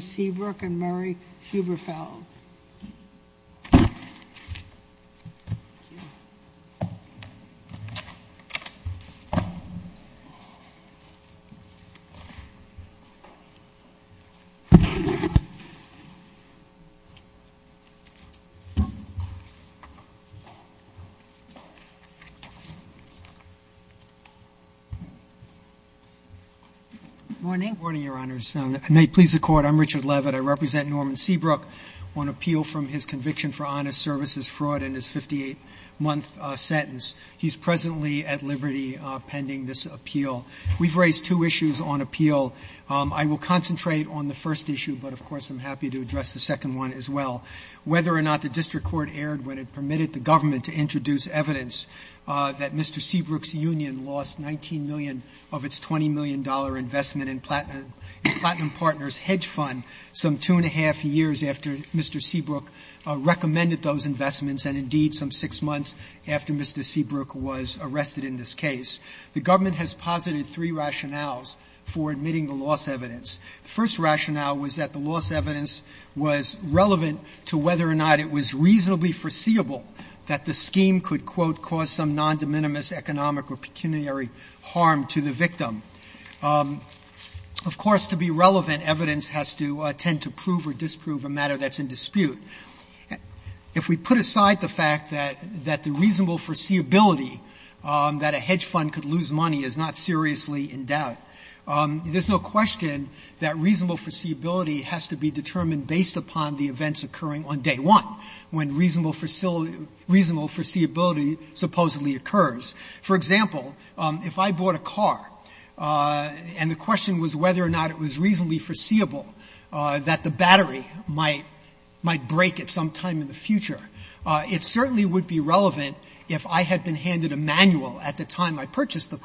Seabrook and Murray Huberfeld. I'm Richard Levitt. I represent Norman Seabrook on appeal from his conviction for honest services fraud in his 58-month sentence. He's presently at liberty pending this appeal. We've raised two issues on appeal. I will concentrate on the first issue, but, of course, I'm happy to address the second one as well. Whether or not the district court erred when it permitted the government to introduce evidence that Mr. Seabrook's union lost $19 million of its $20 million investment in Platinum Partners' hedge fund some two and a half years after Mr. Seabrook recommended those investments and, indeed, some six months after Mr. Seabrook was arrested in this case. The government has posited three rationales for admitting the lost evidence. The first rationale was that the lost evidence was relevant to whether or not it was reasonably foreseeable that the scheme could, quote, "'cause some non-de minimis economic or pecuniary harm to the victim.'" Of course, to be relevant, evidence has to tend to prove or disprove a matter that's in dispute. If we put aside the fact that the reasonable foreseeability that a hedge fund could lose money is not seriously in doubt, there's no question that reasonable foreseeability has to be determined based upon the events occurring on day one, when reasonable foreseeability supposedly occurs. For example, if I bought a car and the question was whether or not it was reasonably foreseeable that the battery might break at some time in the future, it certainly would be relevant if I had been handed a manual at the time I purchased the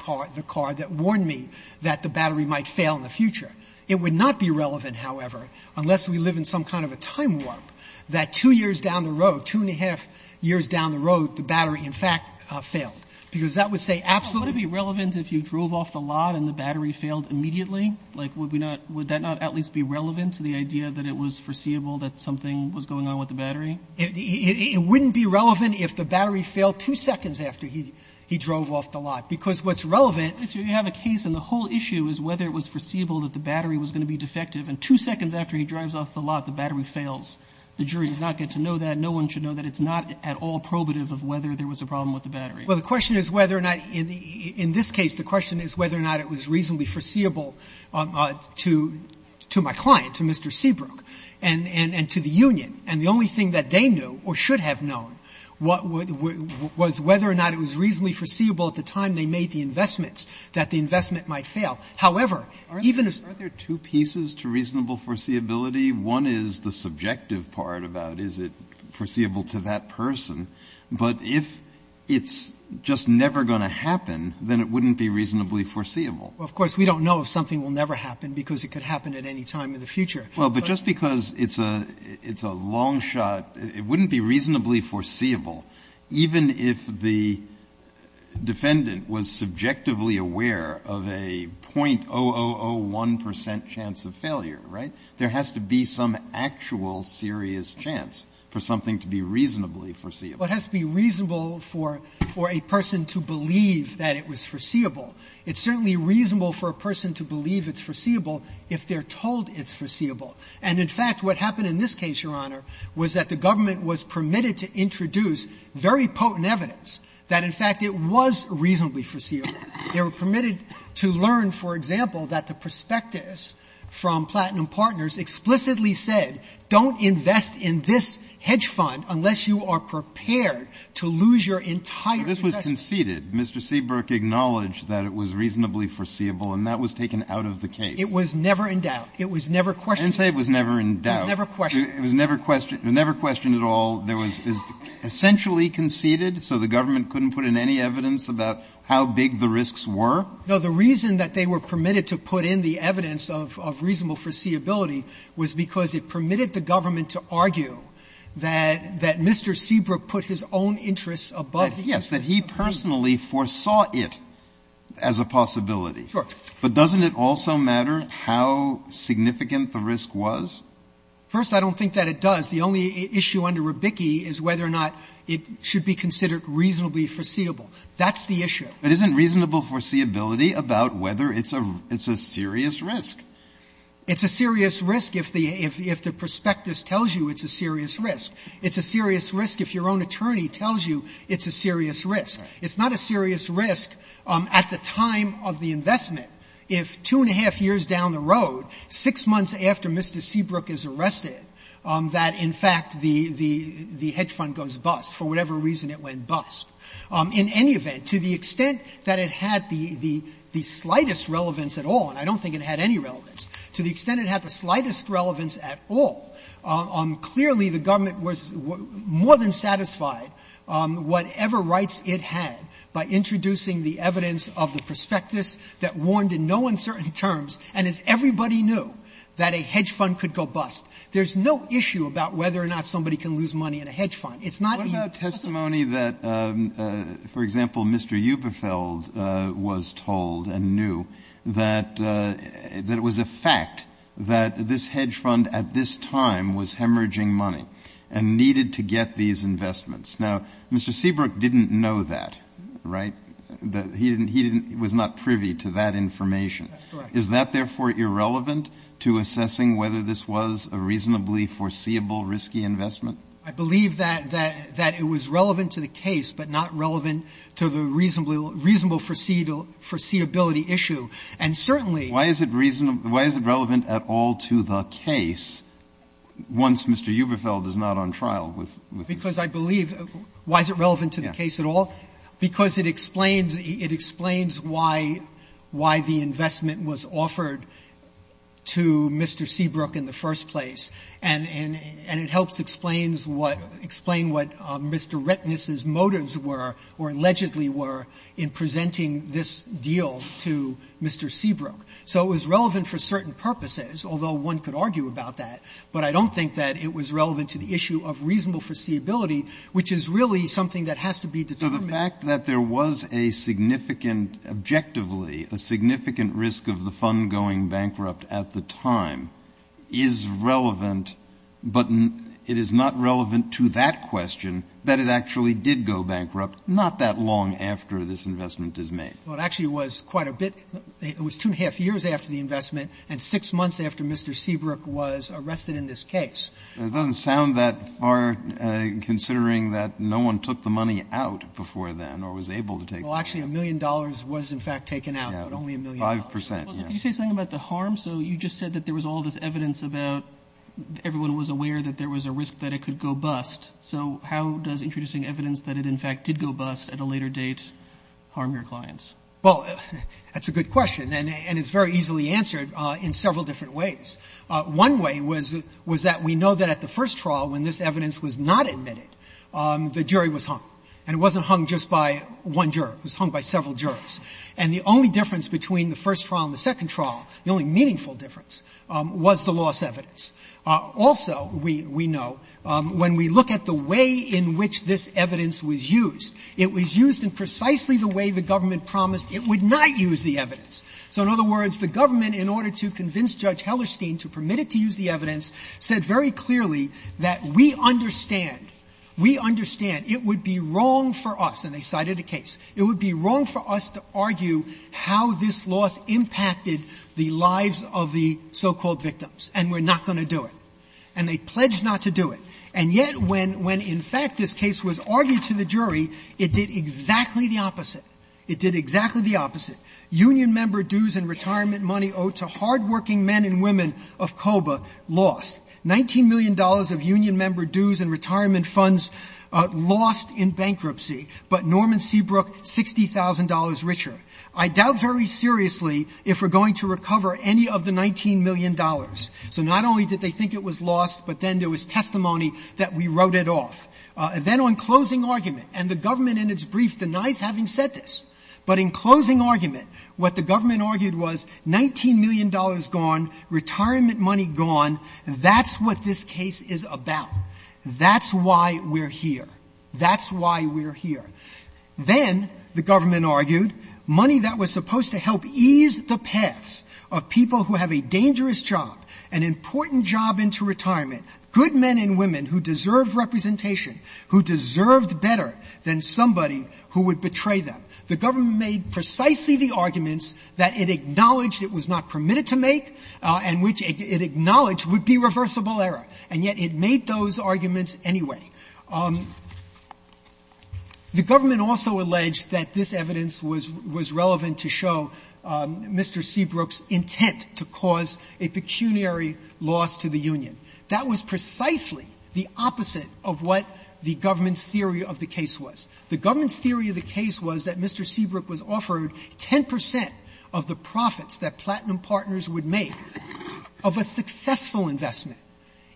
car that warned me that the battery might fail in the future. It would not be relevant, however, unless we live in some kind of a time warp that two years down the road, two and a half years down the road, the battery, in fact, failed, because that would say absolutely. But would it be relevant if you drove off the lot and the battery failed immediately? Like, would that not at least be relevant to the idea that it was foreseeable that something was going on with the battery? It wouldn't be relevant if the battery failed two seconds after he drove off the lot, because what's relevant is you have a case and the whole issue is whether it was foreseeable that the battery was going to be defective, and two seconds after he drives off the lot, the battery fails. The jury does not get to know that. No one should know that. It's not at all probative of whether there was a problem with the battery. Well, the question is whether or not, in this case, the question is whether or not it was reasonably foreseeable to my client, to Mr. Seabrook, and to the union. And the only thing that they knew, or should have known, was whether or not it was reasonably foreseeable at the time they made the investments, that the investment might fail. However, even as to reasonable foreseeability, one is the subjective part about is it foreseeable to that person, but if it's just never going to happen, then it wouldn't be reasonably foreseeable. Well, of course, we don't know if something will never happen, because it could happen at any time in the future. Well, but just because it's a long shot, it wouldn't be reasonably foreseeable even if the defendant was subjectively aware of a 0.0001 percent chance of failure, right? There has to be some actual serious chance for something to be reasonably foreseeable. It has to be reasonable for a person to believe that it was foreseeable. It's certainly reasonable for a person to believe it's foreseeable if they're told it's foreseeable. And, in fact, what happened in this case, Your Honor, was that the government was permitted to introduce very potent evidence that, in fact, it was reasonably foreseeable. They were permitted to learn, for example, that the prospectus from Platinum Partners explicitly said, don't invest in this hedge fund unless you are prepared to lose your entire investment. But this was conceded. Mr. Seabrook acknowledged that it was reasonably foreseeable, and that was taken out of the case. It was never in doubt. It was never questioned. I didn't say it was never in doubt. It was never questioned. It was never questioned. It was never questioned at all. It was essentially conceded, so the government couldn't put in any evidence about how big the risks were? No. The reason that they were permitted to put in the evidence of reasonable foreseeability was because it permitted the government to argue that Mr. Seabrook put his own interests above the interests of others. But, yes, he personally foresaw it as a possibility. Sure. But doesn't it also matter how significant the risk was? First, I don't think that it does. The only issue under Rubicki is whether or not it should be considered reasonably foreseeable. That's the issue. But isn't reasonable foreseeability about whether it's a serious risk? It's a serious risk if the prospectus tells you it's a serious risk. It's a serious risk if your own attorney tells you it's a serious risk. It's not a serious risk at the time of the investment. If two and a half years down the road, six months after Mr. Seabrook is arrested, that, in fact, the hedge fund goes bust, for whatever reason it went bust. In any event, to the extent that it had the slightest relevance at all, and I don't think it had any relevance, to the extent it had the slightest relevance at all, clearly, the government was more than satisfied, whatever rights it had, by introducing the evidence of the prospectus that warned in no uncertain terms, and as everybody knew, that a hedge fund could go bust. There's no issue about whether or not somebody can lose money in a hedge fund. It's not the issue. Kennedy, what about testimony that, for example, Mr. Euperfeld was told and knew that it was a fact that this hedge fund at this time was hemorrhaging money and needed to get these investments? Now, Mr. Seabrook didn't know that, right? He didn't he didn't he was not privy to that information. That's correct. Is that, therefore, irrelevant to assessing whether this was a reasonably foreseeable risky investment? I believe that it was relevant to the case, but not relevant to the reasonable foreseeability issue. And certainly why is it reasonable, why is it relevant at all to the case once Mr. Euperfeld is not on trial with the case? Because I believe, why is it relevant to the case at all? Because it explains why the investment was offered to Mr. Seabrook in the first place, and it helps explain what Mr. Rettnis's motives were or allegedly were in presenting this deal to Mr. Seabrook. So it was relevant for certain purposes, although one could argue about that, but I don't think that it was relevant to the issue of reasonable foreseeability, which is really something that has to be determined. So the fact that there was a significant, objectively, a significant risk of the fund going bankrupt at the time is relevant, but it is not relevant to that question, that it actually did go bankrupt not that long after this investment is made. Well, it actually was quite a bit, it was two and a half years after the investment and six months after Mr. Seabrook was arrested in this case. It doesn't sound that far, considering that no one took the money out before then or was able to take the money out. Well, actually, a million dollars was in fact taken out, but only a million dollars. Five percent, yes. Well, did you say something about the harm? So you just said that there was all this evidence about everyone was aware that there was a risk that it could go bust. So how does introducing evidence that it, in fact, did go bust at a later date harm your clients? Well, that's a good question, and it's very easily answered in several different ways. One way was that we know that at the first trial, when this evidence was not admitted, the jury was hung, and it wasn't hung just by one juror. It was hung by several jurors. And the only difference between the first trial and the second trial, the only meaningful difference, was the lost evidence. Also, we know, when we look at the way in which this evidence was used, it was used in precisely the way the government promised it would not use the evidence. So in other words, the government, in order to convince Judge Hellerstein to permit it to use the evidence, said very clearly that we understand, we understand it would be wrong for us, and they cited a case, it would be wrong for us to offer to argue how this loss impacted the lives of the so-called victims, and we're not going to do it. And they pledged not to do it. And yet, when, in fact, this case was argued to the jury, it did exactly the opposite. It did exactly the opposite. Union member dues and retirement money owed to hardworking men and women of COBA lost. $19 million of union member dues and retirement funds lost in bankruptcy, but Norman Seabrook, $60,000 richer. I doubt very seriously if we're going to recover any of the $19 million. So not only did they think it was lost, but then there was testimony that we wrote it off. Then on closing argument, and the government in its brief denies having said this, but in closing argument, what the government argued was $19 million gone, retirement money gone, that's what this case is about. That's why we're here. That's why we're here. Then the government argued money that was supposed to help ease the paths of people who have a dangerous job, an important job into retirement, good men and women who deserved representation, who deserved better than somebody who would betray them. The government made precisely the arguments that it acknowledged it was not permitted to make and which it acknowledged would be reversible error. And yet it made those arguments anyway. The government also alleged that this evidence was relevant to show Mr. Seabrook's intent to cause a pecuniary loss to the union. That was precisely the opposite of what the government's theory of the case was. The government's theory of the case was that Mr. Seabrook was offered 10 percent of the profits that Platinum Partners would make of a successful investment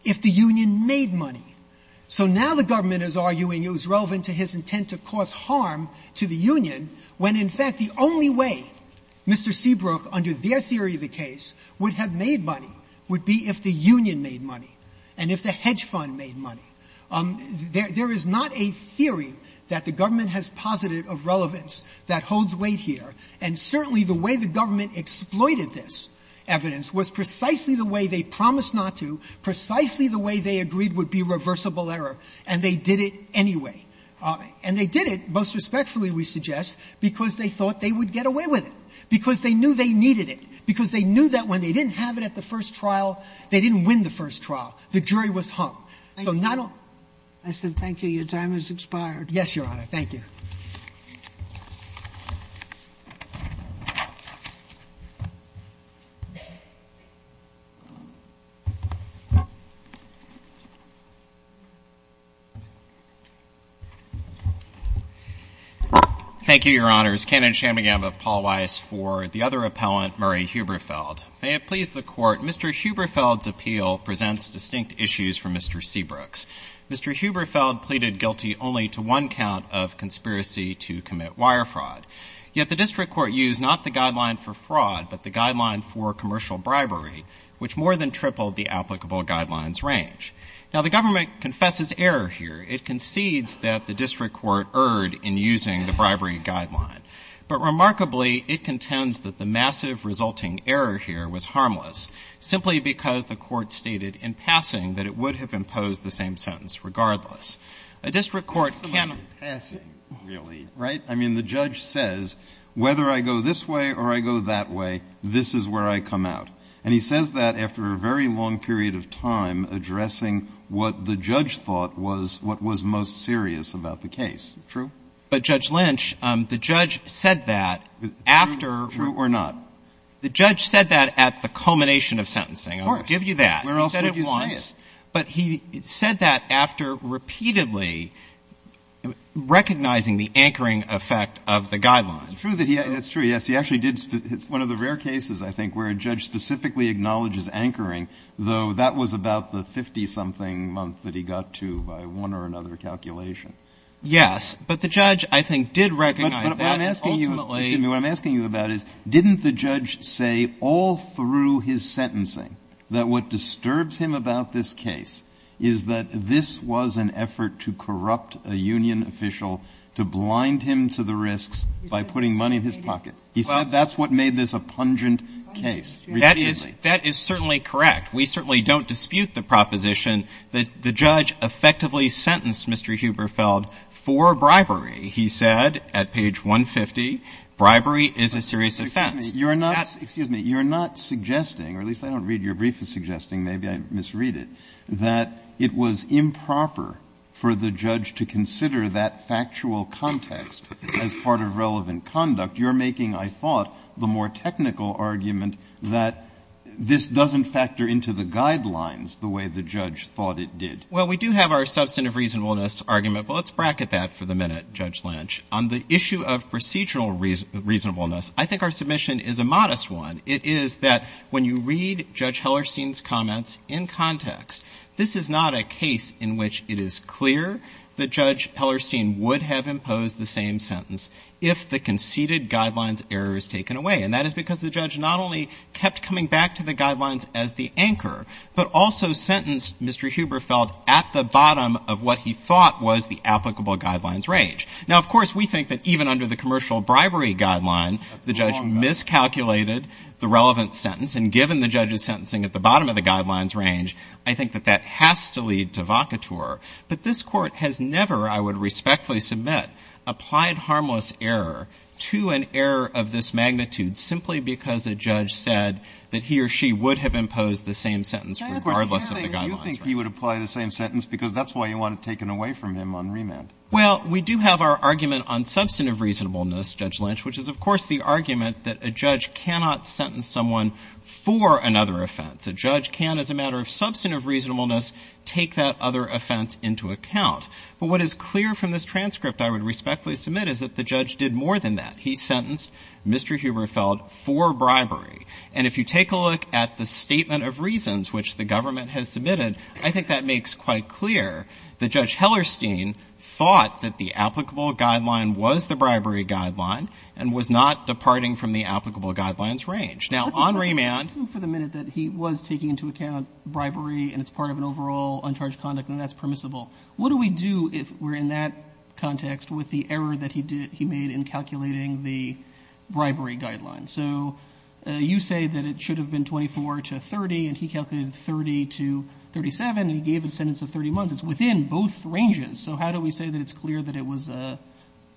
if the union made money. So now the government is arguing it was relevant to his intent to cause harm to the union when, in fact, the only way Mr. Seabrook, under their theory of the case, would have made money would be if the union made money and if the hedge fund made money. There is not a theory that the government has posited of relevance that holds weight here. And certainly the way the government exploited this evidence was precisely the way they promised not to, precisely the way they agreed would be reversible error, and they did it anyway. And they did it, most respectfully we suggest, because they thought they would get away with it, because they knew they needed it, because they knew that when they didn't have it at the first trial, they didn't win the first trial. So not only the government. Sotomayor. I said thank you. Your time has expired. Yes, Your Honor. Thank you. Thank you, Your Honors. Kannon Shanmugam of Paul Weiss for the other appellant, Murray Huberfeld. May it please the Court, Mr. Huberfeld's appeal presents distinct issues for Mr. Seabrook's. Mr. Huberfeld pleaded guilty only to one count of conspiracy to commit wire fraud. Yet the district court used not the guideline for fraud, but the guideline for commercial bribery, which more than tripled the applicable guidelines range. Now, the government confesses error here. It concedes that the district court erred in using the bribery guideline, but remarkably, it contends that the massive resulting error here was harmless, simply because the court stated in passing that it would have imposed the same sentence regardless. A district court can. Passing, really, right? I mean, the judge says, whether I go this way or I go that way, this is where I come out. And he says that after a very long period of time addressing what the judge thought was what was most serious about the case. True. But Judge Lynch, the judge said that after. True or not? The judge said that at the culmination of sentencing. I'll give you that. He said it once, but he said that after repeatedly recognizing the anchoring effect of the guidelines. It's true that he, that's true. Yes. He actually did. It's one of the rare cases, I think, where a judge specifically acknowledges anchoring, though that was about the 50 something month that he got to by one or another calculation. Yes. But the judge, I think, did recognize that. What I'm asking you, what I'm asking you about is, didn't the judge say all through his sentencing that what disturbs him about this case is that this was an effort to corrupt a union official, to blind him to the risks by putting money in his pocket? He said that's what made this a pungent case. That is, that is certainly correct. We certainly don't dispute the proposition that the judge effectively sentenced Mr. Huberfeld for bribery. He said at page 150, bribery is a serious offense. You're not, excuse me, you're not suggesting, or at least I don't read your brief as suggesting, maybe I misread it, that it was improper for the judge to consider that factual context as part of relevant conduct. You're making, I thought, the more technical argument that this doesn't factor into the guidelines the way the judge thought it did. Well, we do have our substantive reasonableness argument, but let's bracket that for the minute, Judge Lynch. On the issue of procedural reasonableness, I think our submission is a modest one. It is that when you read Judge Hellerstein's comments in context, this is not a case in which it is clear that Judge Hellerstein would have imposed the same sentence if the conceded guidelines error is taken away. And that is because the judge not only kept coming back to the guidelines as the anchor, but also sentenced Mr. Huberfeld at the bottom of what he thought was the applicable guidelines range. Now, of course, we think that even under the commercial bribery guideline, the judge miscalculated the relevant sentence. And given the judge's sentencing at the bottom of the guidelines range, I think that that has to lead to vocateur. But this court has never, I would respectfully submit, applied harmless error to an error of this magnitude simply because a judge said that he or she would have imposed the same sentence regardless of the guidelines. You think he would apply the same sentence because that's why you want it taken away from him on remand? Well, we do have our argument on substantive reasonableness, Judge Lynch, which is, of course, the argument that a judge cannot sentence someone for another offense. A judge can, as a matter of substantive reasonableness, take that other offense into account. But what is clear from this transcript, I would respectfully submit, is that the judge did more than that. He sentenced Mr. Huberfeld for bribery. And if you take a look at the statement of reasons which the government has given, Mr. Ollerstein thought that the applicable guideline was the bribery guideline and was not departing from the applicable guidelines range. Now, on remand. Let's assume for the minute that he was taking into account bribery and it's part of an overall uncharged conduct and that's permissible. What do we do if we're in that context with the error that he did, he made in calculating the bribery guideline? So you say that it should have been 24 to 30 and he calculated 30 to 37 and he gave a sentence of 30 months. It's within both ranges. So how do we say that it's clear that it was a,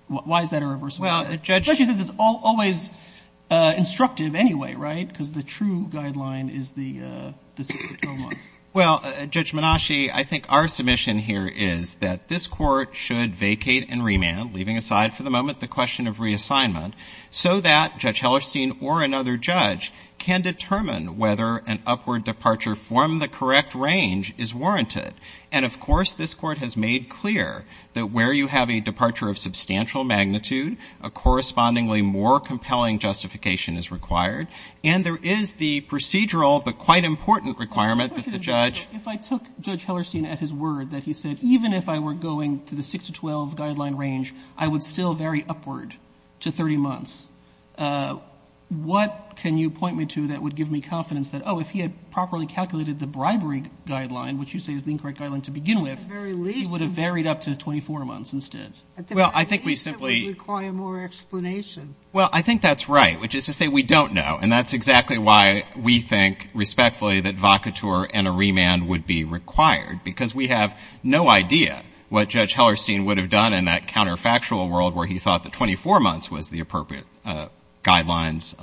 why is that a reversal? Especially since it's always instructive anyway, right? Because the true guideline is the six to 12 months. Well, Judge Menasche, I think our submission here is that this court should vacate and remand, leaving aside for the moment the question of reassignment, so that Judge Ollerstein or another judge can determine whether an upward departure from the correct range is warranted. And, of course, this Court has made clear that where you have a departure of substantial magnitude, a correspondingly more compelling justification is required. And there is the procedural but quite important requirement that the judge – Robertson, if I took Judge Ollerstein at his word that he said, even if I were going to the six to 12 guideline range, I would still vary upward to 30 months, what can you point me to that would give me confidence that, oh, if he had properly calculated the bribery guideline, which you say is the incorrect guideline to begin with, he would have varied up to 24 months instead? Well, I think we simply – At the very least, it would require more explanation. Well, I think that's right, which is to say we don't know. And that's exactly why we think respectfully that vacatur and a remand would be required, because we have no idea what Judge Ollerstein would have done in that counterfactual world where he thought that 24 months was the appropriate guideline's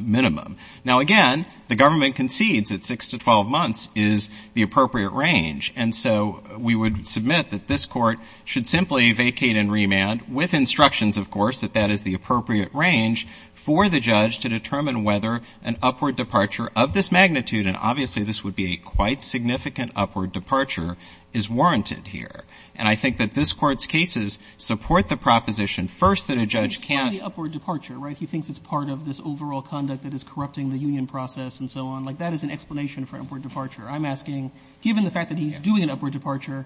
minimum. Now, again, the government concedes that six to 12 months is the appropriate range. And so we would submit that this Court should simply vacate and remand with instructions, of course, that that is the appropriate range for the judge to determine whether an upward departure of this magnitude – and obviously, this would be a quite significant upward departure – is warranted here. And I think that this Court's cases support the proposition first that a judge can't – It's not the upward departure, right? He thinks it's part of this overall conduct that is corrupting the union process and so on. Like, that is an explanation for upward departure. I'm asking, given the fact that he's doing an upward departure,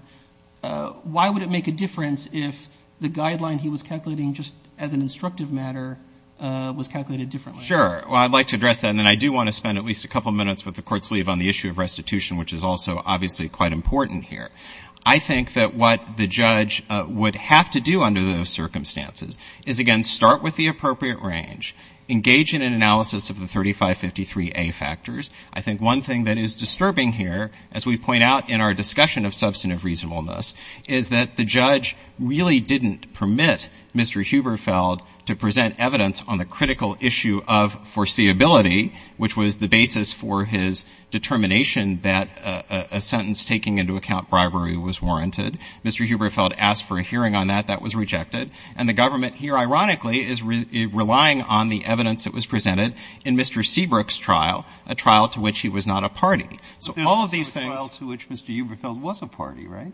why would it make a difference if the guideline he was calculating just as an instructive matter was calculated differently? Sure. Well, I'd like to address that. And then I do want to spend at least a couple minutes with the Court's lead on the issue of restitution, which is also obviously quite important here. I think that what the judge would have to do under those circumstances is, again, start with the appropriate range, engage in an analysis of the 3553A factors. I think one thing that is disturbing here, as we point out in our discussion of substantive reasonableness, is that the judge really didn't permit Mr. Huberfeld to present evidence on the critical issue of foreseeability, which was the basis for his determination that a sentence taking into account bribery was warranted. Mr. Huberfeld asked for a hearing on that. That was rejected. And the government here, ironically, is relying on the evidence that was presented in Mr. Seabrook's trial, a trial to which he was not a party. So all of these things — But there's also a trial to which Mr. Huberfeld was a party, right?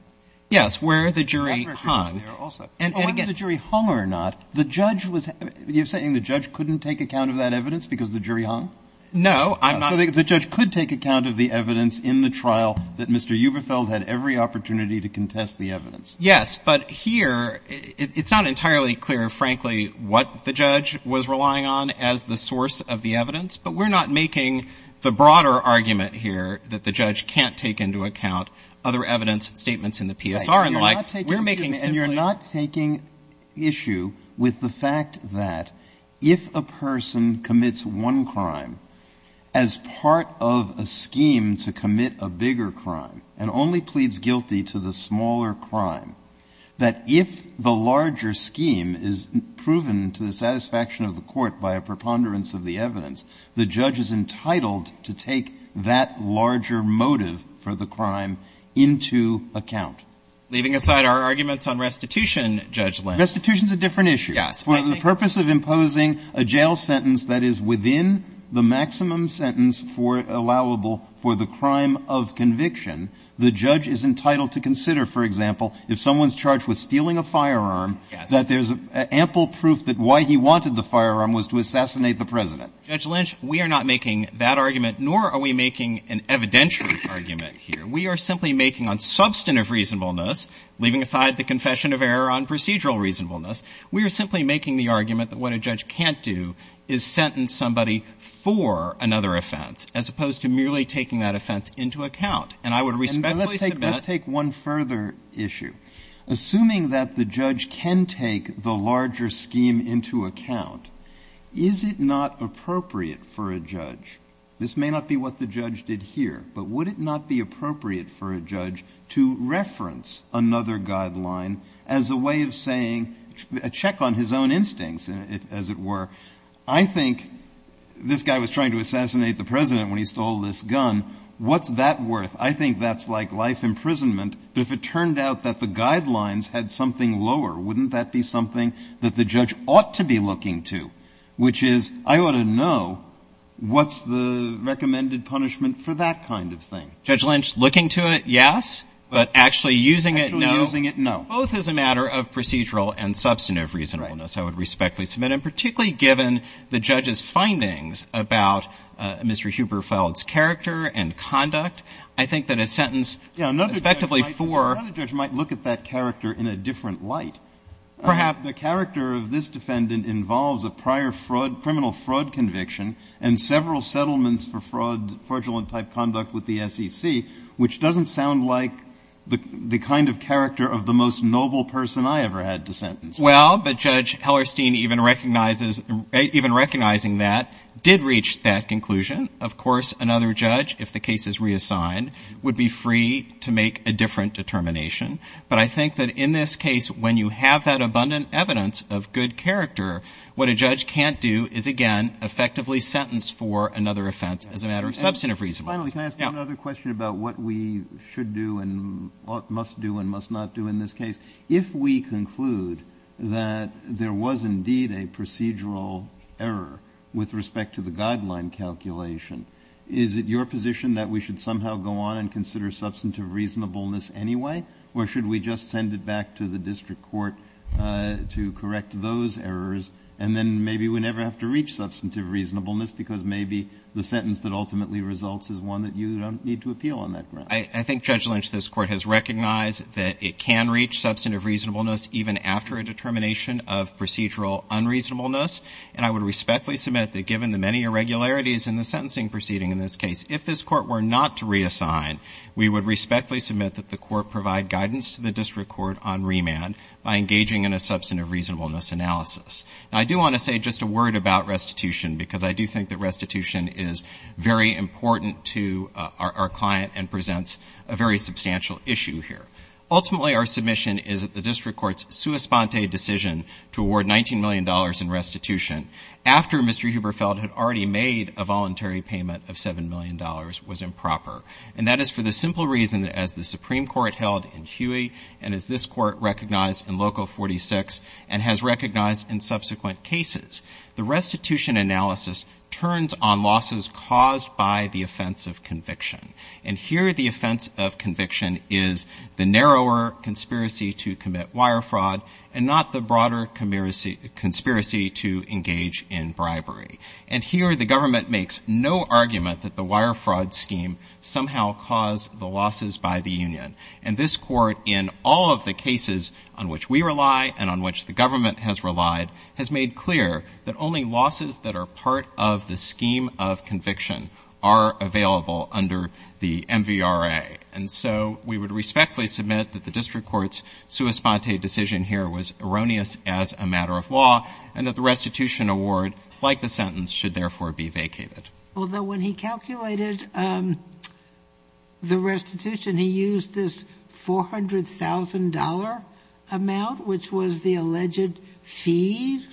Yes, where the jury hung. That record was there also. And again — Whether the jury hung or not, the judge was — you're saying the judge couldn't take account of that evidence because the jury hung? No, I'm not — So the judge could take account of the evidence in the trial that Mr. Huberfeld had every opportunity to contest the evidence. Yes, but here, it's not entirely clear, frankly, what the judge was relying on as the source of the evidence. But we're not making the broader argument here that the judge can't take into account other evidence, statements in the PSR and the like. We're making simply — And you're not taking issue with the fact that if a person commits one crime as part of a scheme to commit a bigger crime and only pleads guilty to the smaller crime, that if the larger scheme is proven to the satisfaction of the court by a preponderance of the evidence, the judge is entitled to take that larger motive for the crime into account. Leaving aside our arguments on restitution, Judge Landau — Restitution's a different issue. Yes. For the purpose of imposing a jail sentence that is within the maximum sentence for — allowable for the crime of conviction, the judge is entitled to consider, for example, if someone's charged with stealing a firearm, that there's ample proof that why he wanted the firearm was to assassinate the president. Judge Lynch, we are not making that argument, nor are we making an evidentiary argument here. We are simply making on substantive reasonableness, leaving aside the confession of error on procedural reasonableness. We are simply making the argument that what a judge can't do is sentence somebody for another offense, as opposed to merely taking that offense into account. And I would respectfully submit — And let's take — let's take one further issue. Assuming that the judge can take the larger scheme into account, is it not appropriate for a judge — this may not be what the judge did here, but would it not be appropriate for a judge to reference another guideline as a way of saying — a check on his own instincts, as it were? I think this guy was trying to assassinate the president when he stole this gun. What's that worth? I think that's like life imprisonment. But if it turned out that the guidelines had something lower, wouldn't that be something that the judge ought to be looking to, which is, I ought to know what's the recommended punishment for that kind of thing? Judge Lynch, looking to it, yes, but actually using it, no. Actually using it, no. Both as a matter of procedural and substantive reasonableness, I would respectfully submit. And particularly given the judge's findings about Mr. Huberfeld's character and conduct, I think that a sentence respectively for — Yeah, another judge might look at that character in a different light. Perhaps the character of this defendant involves a prior fraud — criminal fraud conviction and several settlements for fraud — fraudulent-type conduct with the SEC, which doesn't sound like the kind of character of the most noble person I ever had to sentence. Well, but Judge Hellerstein even recognizes — even recognizing that, did reach that conclusion. Of course, another judge, if the case is reassigned, would be free to make a different determination. But I think that in this case, when you have that abundant evidence of good character, what a judge can't do is, again, effectively sentence for another offense as a matter of substantive reasonableness. Finally, can I ask you another question about what we should do and must do and must not do in this case? If we conclude that there was indeed a procedural error with respect to the guideline calculation, is it your position that we should somehow go on and consider substantive reasonableness anyway? Or should we just send it back to the district court to correct those errors? And then maybe we never have to reach substantive reasonableness because maybe the sentence that ultimately results is one that you don't need to appeal on that ground. I think, Judge Lynch, this Court has recognized that it can reach substantive reasonableness even after a determination of procedural unreasonableness. And I would respectfully submit that, given the many irregularities in the sentencing proceeding in this case, if this Court were not to reassign, we would respectfully submit that the Court provide guidance to the district court on remand by engaging in a substantive reasonableness analysis. Now, I do want to say just a word about restitution because I do think that restitution is very important to our client and presents a very substantial issue here. Ultimately, our submission is that the district court's sua sponte decision to award $19 million in restitution after Mr. Huberfeld had already made a voluntary payment of $7 million was improper. And that is for the simple reason that, as the Supreme Court held in Huey and as this Court recognized in Local 46 and has recognized in subsequent cases, the restitution analysis turns on losses caused by the offense of conviction. And here the offense of conviction is the narrower conspiracy to commit wire fraud and not the broader conspiracy to engage in bribery. And here the government makes no argument that the wire fraud scheme somehow caused the losses by the union. And this Court, in all of the cases on which we rely and on which the government has relied, has made clear that only losses that are part of the scheme of conviction are available under the MVRA. And so we would respectfully submit that the district court's sua sponte decision here was erroneous as a matter of law and that the restitution award, like the sentence, should therefore be vacated. Although when he calculated the restitution, he used this $400,000 amount, which was the alleged fee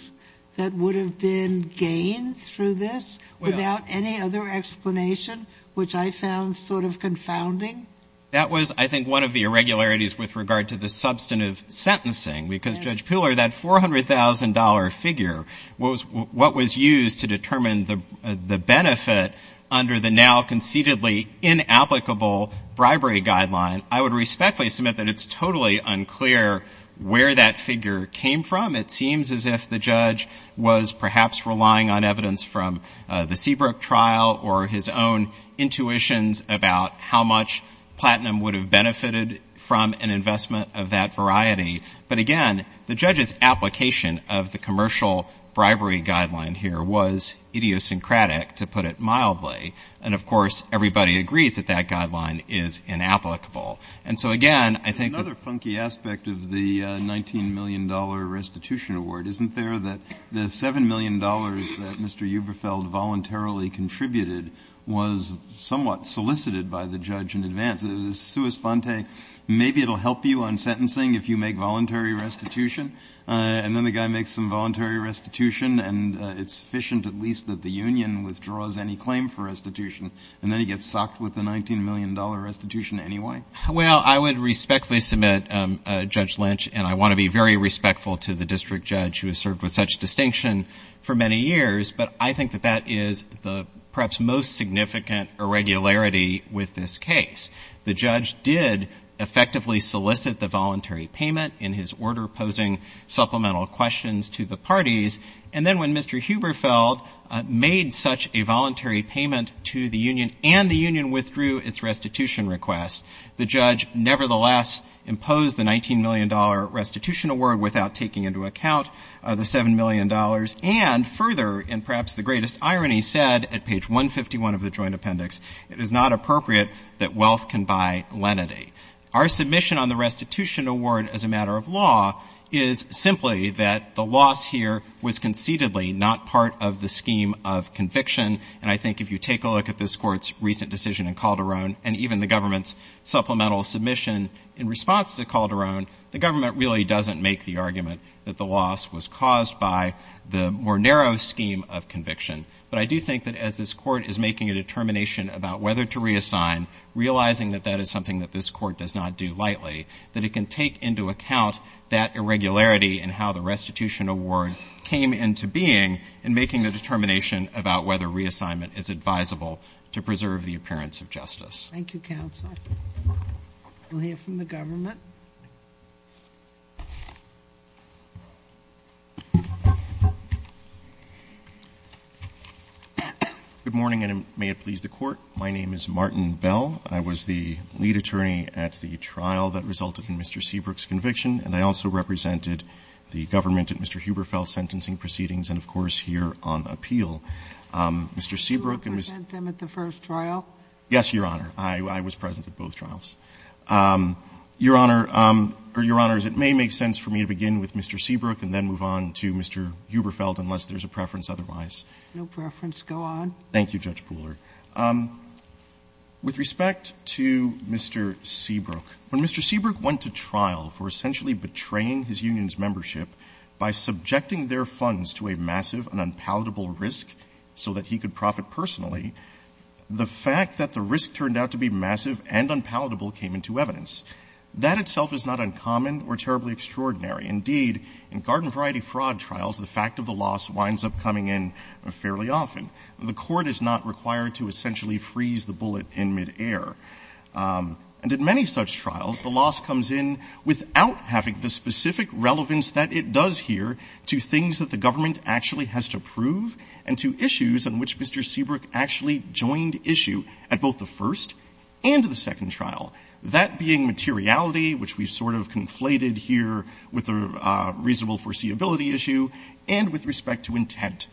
that would have been gained through this without any other explanation, which I found sort of confounding. That was, I think, one of the irregularities with regard to the substantive sentencing because Judge Puhler, that $400,000 figure was what was used to determine the benefit under the now conceitedly inapplicable bribery guideline. I would respectfully submit that it's totally unclear where that figure came from. It seems as if the judge was perhaps relying on evidence from the Seabrook trial or his own intuitions about how much platinum would have benefited from an investment of that variety. But again, the judge's application of the commercial bribery guideline here was idiosyncratic, to put it mildly. And of course, everybody agrees that that guideline is inapplicable. And so again, I think that Another funky aspect of the $19 million restitution award, isn't there, that the $7 million that was somewhat solicited by the judge in advance, sui sponte, maybe it'll help you on sentencing if you make voluntary restitution, and then the guy makes some voluntary restitution and it's sufficient at least that the union withdraws any claim for restitution, and then he gets socked with the $19 million restitution anyway? Well, I would respectfully submit, Judge Lynch, and I want to be very respectful to the district judge who has served with such distinction for many years, but I think that that is the perhaps most significant irregularity with this case. The judge did effectively solicit the voluntary payment in his order, posing supplemental questions to the parties. And then when Mr. Huberfeld made such a voluntary payment to the union and the union withdrew its restitution request, the judge nevertheless imposed the $19 million restitution award without taking into account the $7 million, and further, and perhaps the greatest irony, said at page 151 of the joint appendix, it is not appropriate that wealth can buy lenity. Our submission on the restitution award as a matter of law is simply that the loss here was conceitedly not part of the scheme of conviction, and I think if you take a look at this Court's recent decision in Calderon and even the government's supplemental submission in response to Calderon, the government really doesn't make the argument that the loss was caused by the more narrow scheme of conviction. But I do think that as this Court is making a determination about whether to reassign, realizing that that is something that this Court does not do lightly, that it can take into account that irregularity in how the restitution award came into being in making the determination about whether reassignment is advisable to preserve the appearance of justice. Thank you, counsel. We'll hear from the government. Good morning, and may it please the Court. My name is Martin Bell. I was the lead attorney at the trial that resulted in Mr. Seabrook's conviction, and I also represented the government at Mr. Huberfeld's sentencing proceedings and, of course, here on appeal. Mr. Seabrook and Ms. Do you represent them at the first trial? Yes, Your Honor. I was present at both trials. Your Honor, or Your Honors, it may make sense for me to begin with Mr. Seabrook and then move on to Mr. Huberfeld unless there's a preference otherwise. No preference. Go on. Thank you, Judge Pooler. With respect to Mr. Seabrook, when Mr. Seabrook went to trial for essentially betraying his union's membership by subjecting their funds to a massive and unpalatable risk so that he could profit personally, the fact that the risk turned out to be massive and unpalatable came into evidence. That itself is not uncommon or terribly extraordinary. Indeed, in garden variety fraud trials, the fact of the loss winds up coming in fairly often. The court is not required to essentially freeze the bullet in midair. And in many such trials, the loss comes in without having the specific relevance that it does here to things that the government actually has to prove and to issues on which Mr. Seabrook actually joined issue at both the first and the second trial. That being materiality, which we've sort of conflated here with the reasonable foreseeability issue, and with respect to intent.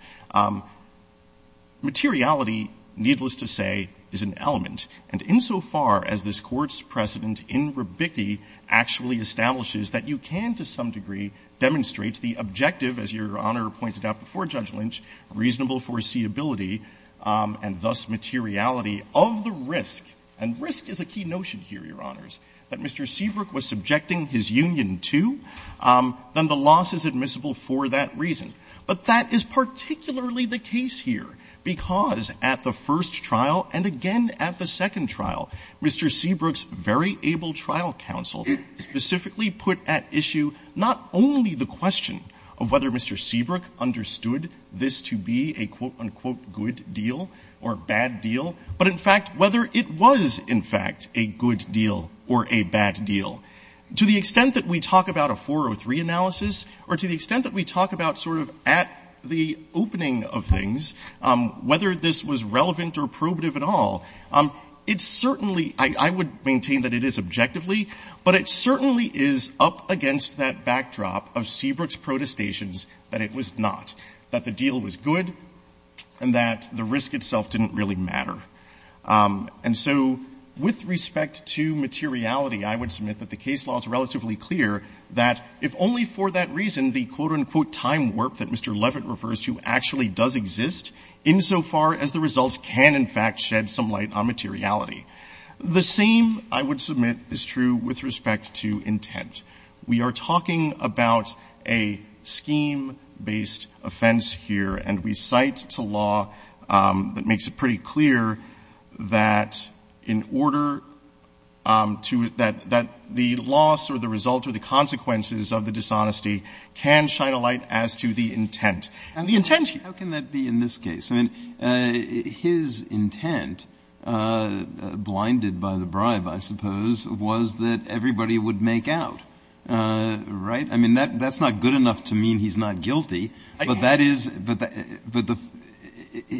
Materiality, needless to say, is an element. And insofar as this Court's precedent in rebicki actually establishes that you can, to some degree, demonstrate the objective, as Your Honor pointed out before Judge Lynch, reasonable foreseeability and thus materiality of the risk, and risk is a key notion here, Your Honors, that Mr. Seabrook was subjecting his union to, then the loss is admissible for that reason. But that is particularly the case here, because at the first trial, and again at the second trial, Mr. Seabrook's very able trial counsel specifically put at issue not only the question of whether Mr. Seabrook understood this to be a quote-unquote good deal or bad deal, but in fact whether it was, in fact, a good deal or a bad deal. To the extent that we talk about a 403 analysis, or to the extent that we talk about sort of at the opening of things, whether this was relevant or probative at all, it's certainly, I would maintain that it is objectively, but it certainly is up against that backdrop of Seabrook's protestations that it was not, that the deal was good, and that the risk itself didn't really matter. And so with respect to materiality, I would submit that the case law is relatively clear that if only for that reason, the quote-unquote time warp that Mr. Levitt refers to actually does exist, insofar as the results can, in fact, shed some light on materiality. The same, I would submit, is true with respect to intent. We are talking about a scheme-based offense here, and we cite to law that makes it pretty clear that in order to — that the loss or the result or the consequences of the dishonesty can shine a light as to the intent. And the intent here — Breyer, how can that be in this case? I mean, his intent, blinded by the bribe, I suppose, was that everybody would make out, right? I mean, that's not good enough to mean he's not guilty, but that is — but the —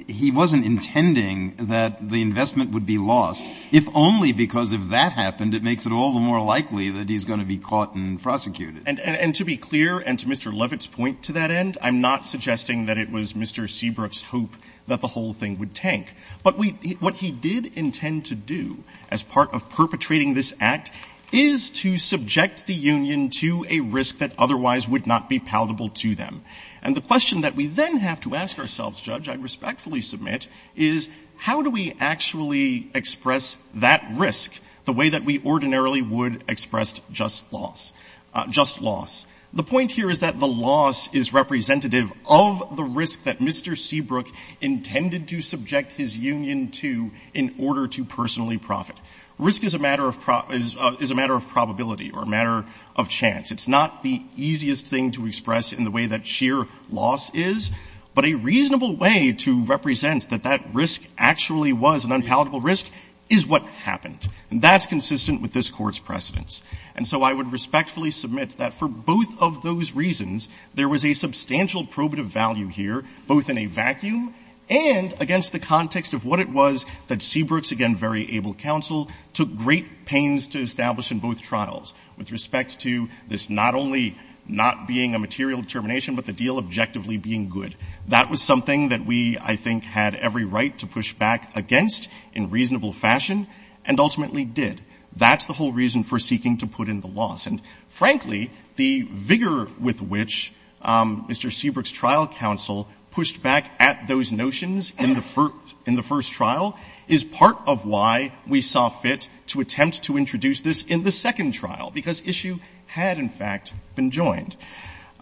he wasn't intending that the investment would be lost, if only because if that happened, it makes it all the more likely that he's going to be caught and prosecuted. And to be clear, and to Mr. Levitt's point to that end, I'm not suggesting that it was Mr. Seabrook's hope that the whole thing would tank. But we — what he did intend to do as part of perpetrating this act is to subject the union to a risk that otherwise would not be palatable to them. And the question that we then have to ask ourselves, Judge, I respectfully submit, is how do we actually express that risk the way that we ordinarily would express just loss — just loss? The point here is that the loss is representative of the risk that Mr. Seabrook intended to subject his union to in order to personally profit. Risk is a matter of — is a matter of probability or a matter of chance. It's not the easiest thing to express in the way that sheer loss is, but a reasonable way to represent that that risk actually was an unpalatable risk is what happened. And that's consistent with this Court's precedence. And so I would respectfully submit that for both of those reasons, there was a substantial probative value here, both in a vacuum and against the context of what it was that Seabrook's, again, very able counsel took great pains to establish in both trials with respect to this not only not being a material determination, but the deal objectively being good. That was something that we, I think, had every right to push back against in reasonable fashion and ultimately did. That's the whole reason for seeking to put in the loss. And frankly, the vigor with which Mr. Seabrook's trial counsel pushed back at those notions in the first — in the first trial is part of why we saw fit to attempt to introduce this in the second trial, because issue had, in fact, been joined.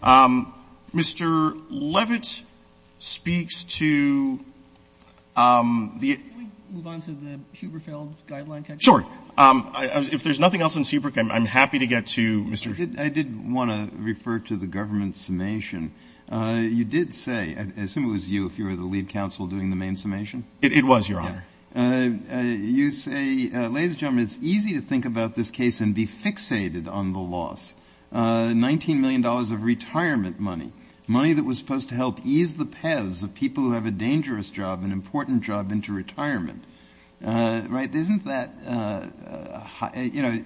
Mr. Levitt speaks to the — Roberts. Can we move on to the Huberfeld Guideline? Sure. If there's nothing else on Seabrook, I'm happy to get to Mr. — I did want to refer to the government's summation. You did say — I assume it was you, if you were the lead counsel, doing the main summation? It was, Your Honor. You say, ladies and gentlemen, it's easy to think about this case and be fixated on the loss. $19 million of retirement money, money that was supposed to help ease the paths of people who have a dangerous job, an important job, into retirement, right? Isn't that — you know,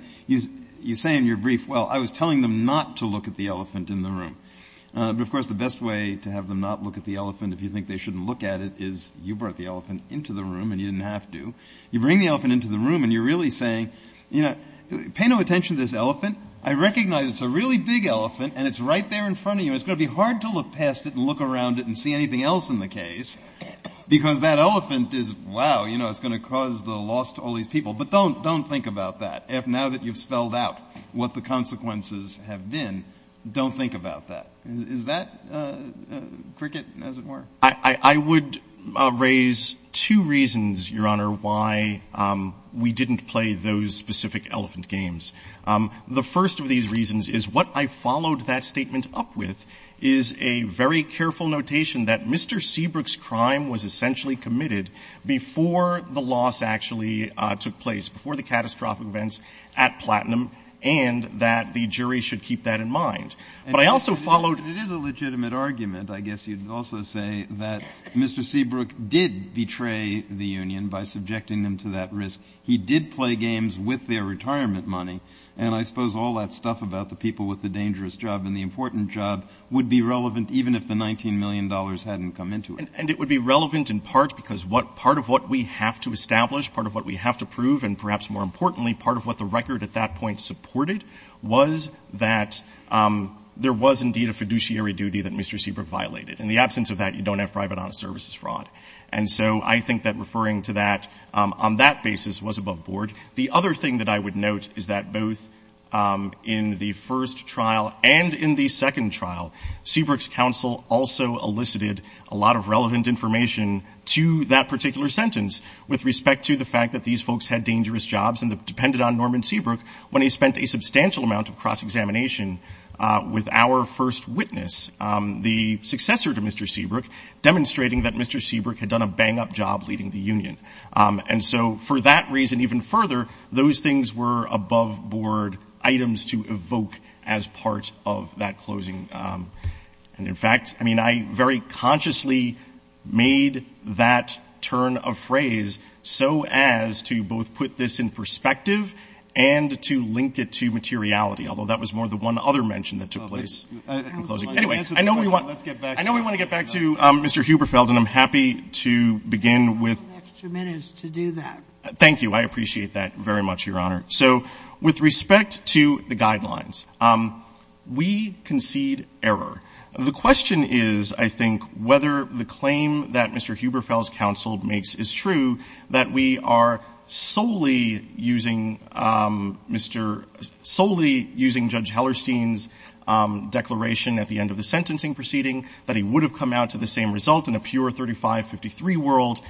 you say in your brief, well, I was telling them not to look at the elephant in the room. But, of course, the best way to have them not look at the elephant, if you think they shouldn't look at it, is you brought the elephant into the room, and you didn't have to. You bring the elephant into the room, and you're really saying, you know, pay no attention to this elephant. I recognize it's a really big elephant, and it's right there in front of you. It's going to be hard to look past it and look around it and see anything else in the case, because that elephant is, wow, you know, it's going to cause the loss to all these people. But don't think about that. Now that you've spelled out what the consequences have been, don't think about that. Is that cricket as it were? I would raise two reasons, Your Honor, why we didn't play those specific elephant games. The first of these reasons is what I followed that statement up with is a very careful notation that Mr. Seabrook's crime was essentially committed before the loss actually took place, before the catastrophic events at Platinum, and that the jury should keep that in mind. But I also followed. It is a legitimate argument, I guess you'd also say, that Mr. Seabrook did betray the union by subjecting them to that risk. He did play games with their retirement money. And I suppose all that stuff about the people with the dangerous job and the important job would be relevant even if the $19 million hadn't come into it. And it would be relevant in part because part of what we have to establish, part of what we have to prove, and perhaps more importantly, part of what the record at that point supported was that there was indeed a fiduciary duty that Mr. Seabrook violated. In the absence of that, you don't have private honest services fraud. And so I think that referring to that on that basis was above board. The other thing that I would note is that both in the first trial and in the second trial, Seabrook's counsel also elicited a lot of relevant information to that particular sentence with respect to the fact that these folks had dangerous jobs and depended on Norman Seabrook when he spent a substantial amount of cross-examination with our first witness, the successor to Mr. Seabrook, demonstrating that Mr. Seabrook had done a bang-up job leading the union. And so for that reason, even further, those things were above board items to evoke as part of that closing. And, in fact, I mean, I very consciously made that turn of phrase so as to both put this in perspective and to link it to materiality, although that was more the one other mention that took place. Anyway, I know we want to get back to Mr. Huberfeld, and I'm happy to begin with the next two minutes to do that. Thank you. I appreciate that very much, Your Honor. So with respect to the guidelines, we concede error. The question is, I think, whether the claim that Mr. Huberfeld's counsel makes is true, that we are solely using Mr. — solely using Judge Hellerstein's declaration at the end of the sentencing proceeding, that he would have come out to the same result in a pure 3553 world.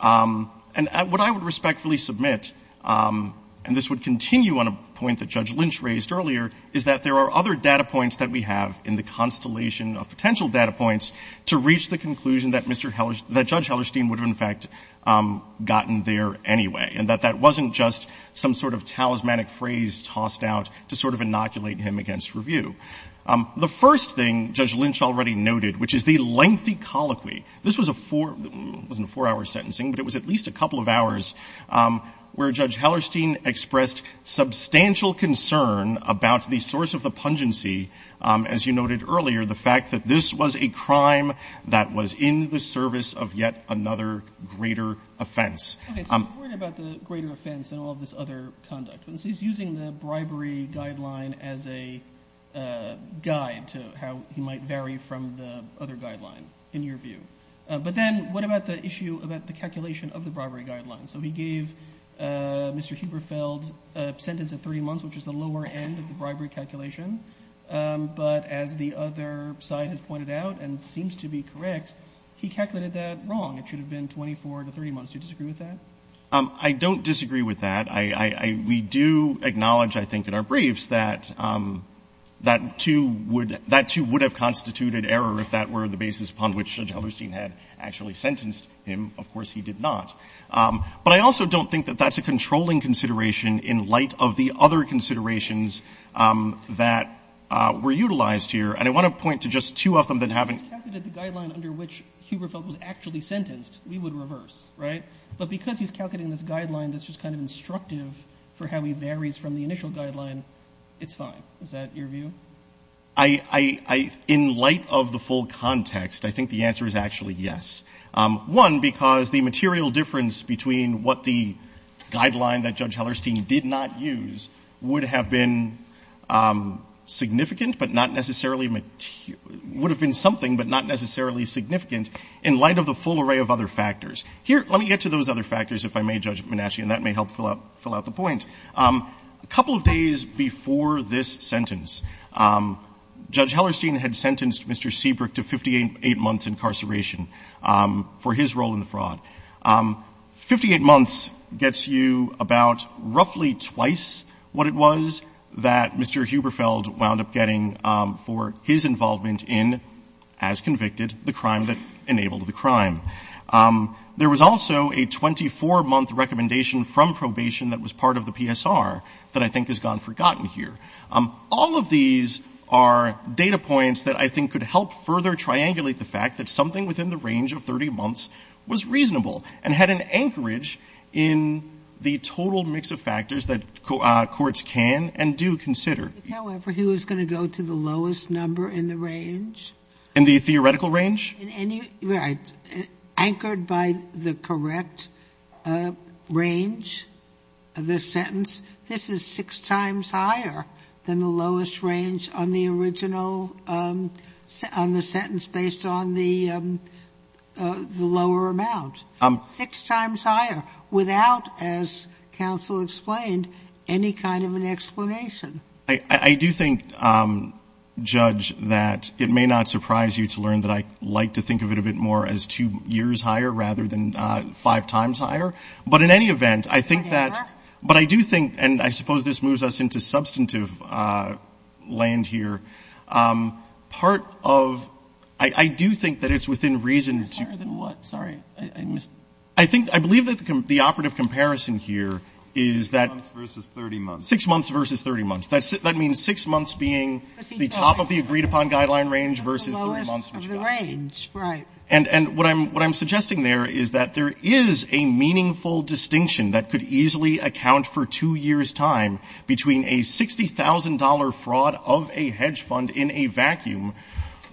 And what I would respectfully submit, and this would continue on a point that Judge Lynch raised earlier, is that there are other data points that we have in the constellation of potential data points to reach the conclusion that Mr. — that Judge Hellerstein would have, in fact, gotten there anyway, and that that wasn't just some sort of talismanic phrase tossed out to sort of inoculate him against review. The first thing Judge Lynch already noted, which is the lengthy colloquy, this was a four — it wasn't a four-hour sentencing, but it was at least a couple of hours where Judge Hellerstein expressed substantial concern about the source of the pungency, as you noted earlier, the fact that this was a crime that was in the service of yet another greater offense. Okay. So I'm worried about the greater offense and all of this other conduct. He's using the bribery guideline as a guide to how he might vary from the other guideline, in your view. But then what about the issue about the calculation of the bribery guideline? So he gave Mr. Huberfeld a sentence of 30 months, which is the lower end of the bribery calculation, but as the other side has pointed out and seems to be correct, he calculated that wrong. It should have been 24 to 30 months. Do you disagree with that? I don't disagree with that. I — we do acknowledge, I think, in our briefs that that, too, would — that, too, would have constituted error if that were the basis upon which Judge Hellerstein had actually sentenced him. Of course, he did not. But I also don't think that that's a controlling consideration in light of the other considerations that were utilized here. And I want to point to just two of them that haven't — If he calculated the guideline under which Huberfeld was actually sentenced, we would reverse, right? But because he's calculating this guideline that's just kind of instructive for how he varies from the initial guideline, it's fine. Is that your view? I — in light of the full context, I think the answer is actually yes. One, because the material difference between what the guideline that Judge Hellerstein did not use would have been significant but not necessarily — would have been something but not necessarily significant in light of the full array of other factors. Here, let me get to those other factors, if I may, Judge Menachie, and that may help fill out the point. A couple of days before this sentence, Judge Hellerstein had sentenced Mr. Seabrook to 58 months incarceration for his role in the fraud. Fifty-eight months gets you about roughly twice what it was that Mr. Huberfeld wound up getting for his involvement in, as convicted, the crime that enabled the crime. There was also a 24-month recommendation from probation that was part of the PSR that I think has gone forgotten here. All of these are data points that I think could help further triangulate the fact that something within the range of 30 months was reasonable and had an anchorage in the total mix of factors that courts can and do consider. However, he was going to go to the lowest number in the range? In the theoretical range? Anchored by the correct range of the sentence. This is six times higher than the lowest range on the original, on the sentence based on the lower amount. Six times higher without, as counsel explained, any kind of an explanation. I do think, Judge, that it may not surprise you to learn that I like to think of it a bit more as two years higher rather than five times higher. But in any event, I think that, but I do think, and I suppose this moves us into substantive land here. Part of, I do think that it's within reason to. Higher than what? Sorry, I missed. I think, I believe that the operative comparison here is that. Six months versus 30 months. That means six months being the top of the agreed upon guideline range versus the lowest of the range. Right. And what I'm suggesting there is that there is a meaningful distinction that could easily account for two years' time between a $60,000 fraud of a hedge fund in a vacuum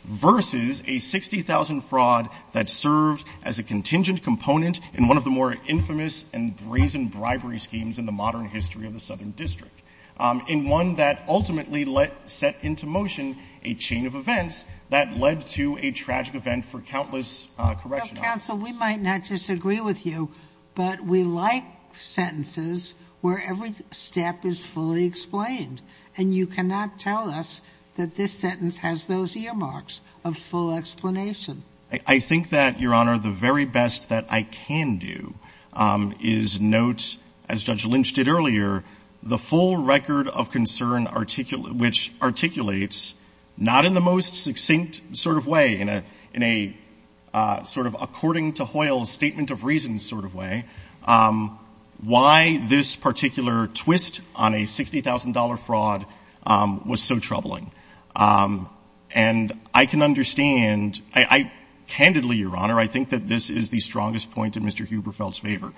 versus a $60,000 fraud that served as a contingent component in one of the more infamous and brazen bribery schemes in the modern history of the Southern District, in one that ultimately set into motion a chain of events that led to a tragic event for countless correction officers. Counsel, we might not disagree with you, but we like sentences where every step is fully explained. And you cannot tell us that this sentence has those earmarks of full explanation. I think that, Your Honor, the very best that I can do is note, as Judge Lynch did earlier, the full record of concern which articulates, not in the most succinct sort of way, in a sort of according to Hoyle's statement of reasons sort of way, why this particular twist on a $60,000 fraud was so troubling. And I can understand, candidly, Your Honor, I think that this is the strongest point in Mr. Huberfeld's favor.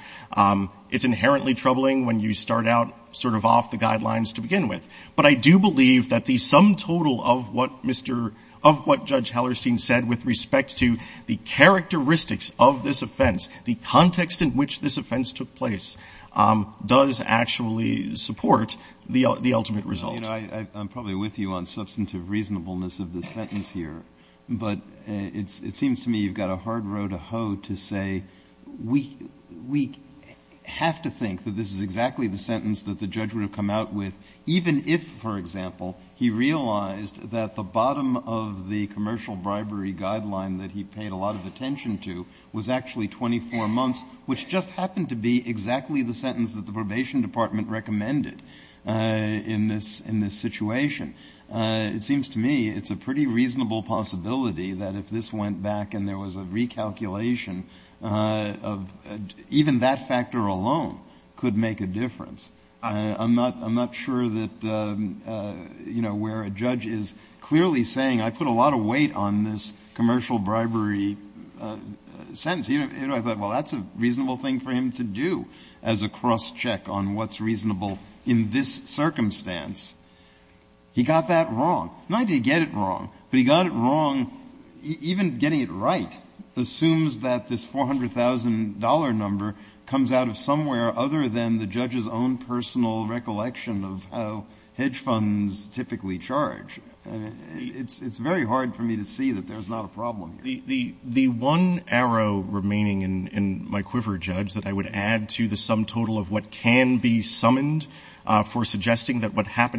It's inherently troubling when you start out sort of off the guidelines to begin with. But I do believe that the sum total of what Mr. — of what Judge Hallerstein said with respect to the characteristics of this offense, the context in which this offense took place, does actually support the ultimate result. I'm probably with you on substantive reasonableness of the sentence here, but it seems to me you've got a hard row to hoe to say we have to think that this is exactly the sentence that the judge would have come out with even if, for example, he realized that the bottom of the commercial bribery guideline that he paid a lot of attention to was actually 24 months, which just happened to be exactly the sentence that the Probation Department recommended in this situation. It seems to me it's a pretty reasonable possibility that if this went back and there was a recalculation, even that factor alone could make a difference. I'm not sure that, you know, where a judge is clearly saying I put a lot of weight on this commercial bribery sentence. I thought, well, that's a reasonable thing for him to do as a cross-check on what's reasonable in this circumstance. He got that wrong. Not that he did it wrong, but he got it wrong, even getting it right, assumes that this $400,000 number comes out of somewhere other than the judge's own personal recollection of how hedge funds typically charge. It's very hard for me to see that there's not a problem here. The one arrow remaining in my quiver, Judge, that I would add to the sum total of what happened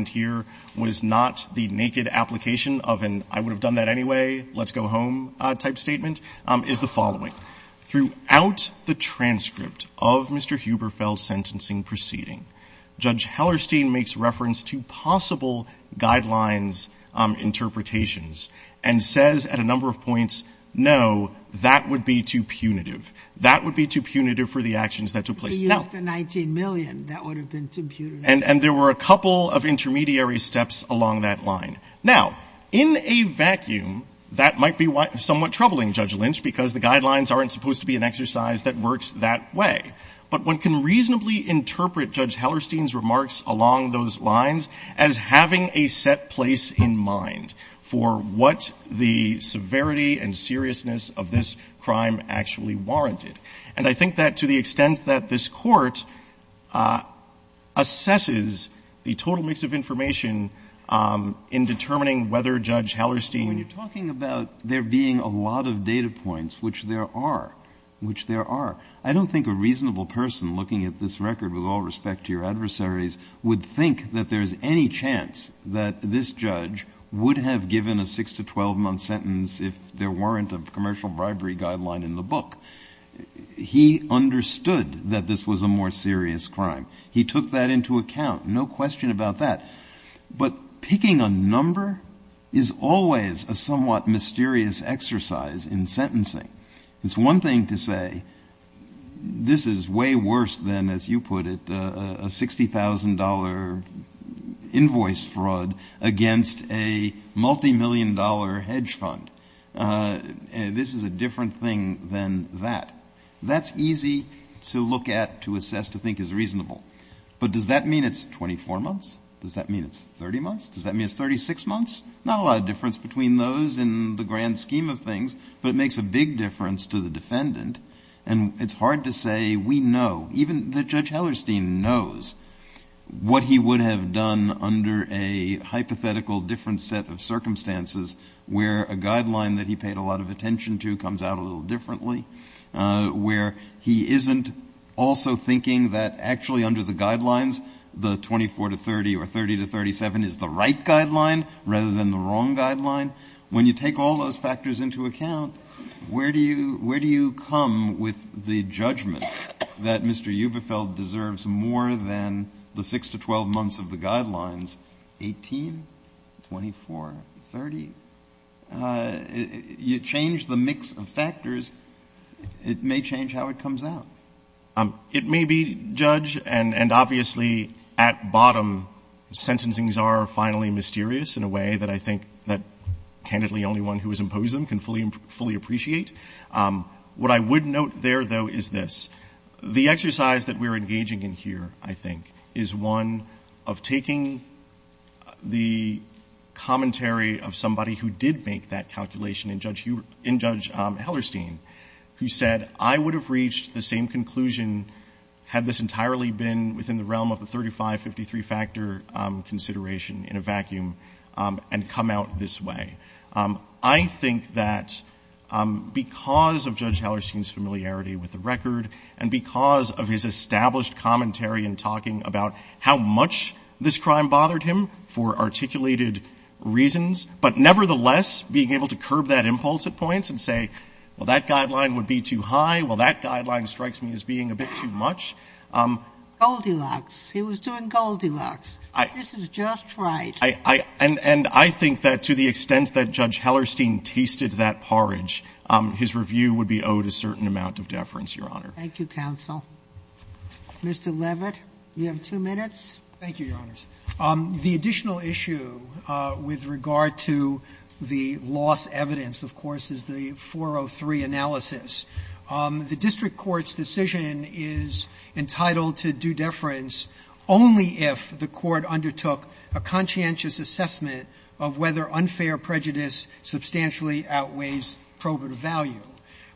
here was not the naked application of an I-would-have-done-that-anyway, let's-go-home type statement, is the following. Throughout the transcript of Mr. Huberfel's sentencing proceeding, Judge Hellerstein makes reference to possible guidelines interpretations and says at a number of points, no, that would be too punitive. That would be too punitive for the actions that took place. Now the 19 million, that would have been too punitive. And there were a couple of intermediary steps along that line. Now, in a vacuum, that might be somewhat troubling, Judge Lynch, because the guidelines aren't supposed to be an exercise that works that way. But one can reasonably interpret Judge Hellerstein's remarks along those lines as having a set place in mind for what the severity and seriousness of this crime actually warranted. And I think that to the extent that this Court assesses the total mix of information in determining whether Judge Hellerstein needed to do that. Breyer. When you're talking about there being a lot of data points, which there are, which there are, I don't think a reasonable person looking at this record, with all respect to your adversaries, would think that there's any chance that this judge would have given a 6- to 12-month sentence if there weren't a commercial bribery guideline in the book. He understood that this was a more serious crime. He took that into account. No question about that. But picking a number is always a somewhat mysterious exercise in sentencing. It's one thing to say, this is way worse than, as you put it, a $60,000 invoice fraud against a multimillion-dollar hedge fund. This is a different thing than that. That's easy to look at, to assess, to think is reasonable. But does that mean it's 24 months? Does that mean it's 30 months? Does that mean it's 36 months? Not a lot of difference between those in the grand scheme of things, but it makes a big difference to the defendant. And it's hard to say we know, even that Judge Hellerstein knows, what he would have done under a hypothetical different set of circumstances where a guideline that he paid a lot of attention to comes out a little differently, where he isn't also thinking that actually under the guidelines, the 24 to 30 or 30 to 37 is the right guideline rather than the wrong guideline. When you take all those factors into account, where do you come with the judgment that Mr. Eubefeld deserves more than the 6 to 12 months of the guidelines, 18, 24, 30? You change the mix of factors. It may change how it comes out. It may be, Judge, and obviously at bottom, sentencings are finally mysterious in a way that I think that, candidly, only one who has imposed them can fully appreciate. What I would note there, though, is this. The exercise that we're engaging in here, I think, is one of taking the commentary of somebody who did make that calculation in Judge Hellerstein, who said, I would have reached the same conclusion had this entirely been within the realm of the 35-53 factor consideration in a vacuum and come out this way. I think that because of Judge Hellerstein's familiarity with the record and because of his established commentary in talking about how much this crime bothered him for articulated reasons, but nevertheless being able to curb that impulse at points and say, well, that guideline would be too high, well, that guideline strikes me as being a bit too much. Goldilocks. He was doing Goldilocks. This is just right. And I think that to the extent that Judge Hellerstein tasted that porridge, his review would be owed a certain amount of deference, Your Honor. Thank you, counsel. Mr. Levitt, you have two minutes. Thank you, Your Honors. The additional issue with regard to the lost evidence, of course, is the 403 analysis. The district court's decision is entitled to due deference only if the court undertook a conscientious assessment of whether unfair prejudice substantially outweighs probative value.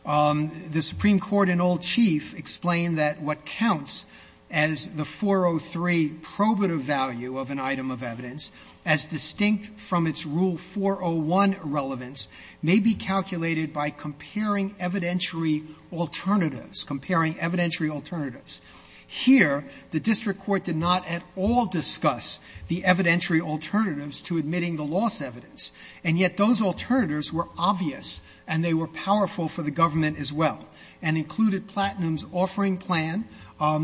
The Supreme Court in Old Chief explained that what counts as the 403 probative value of an item of evidence as distinct from its Rule 401 relevance may be calculated by comparing evidentiary alternatives, comparing evidentiary alternatives. Here, the district court did not at all discuss the evidentiary alternatives to admitting the lost evidence. And yet those alternatives were obvious, and they were powerful for the government as well, and included Platinum's offering plan,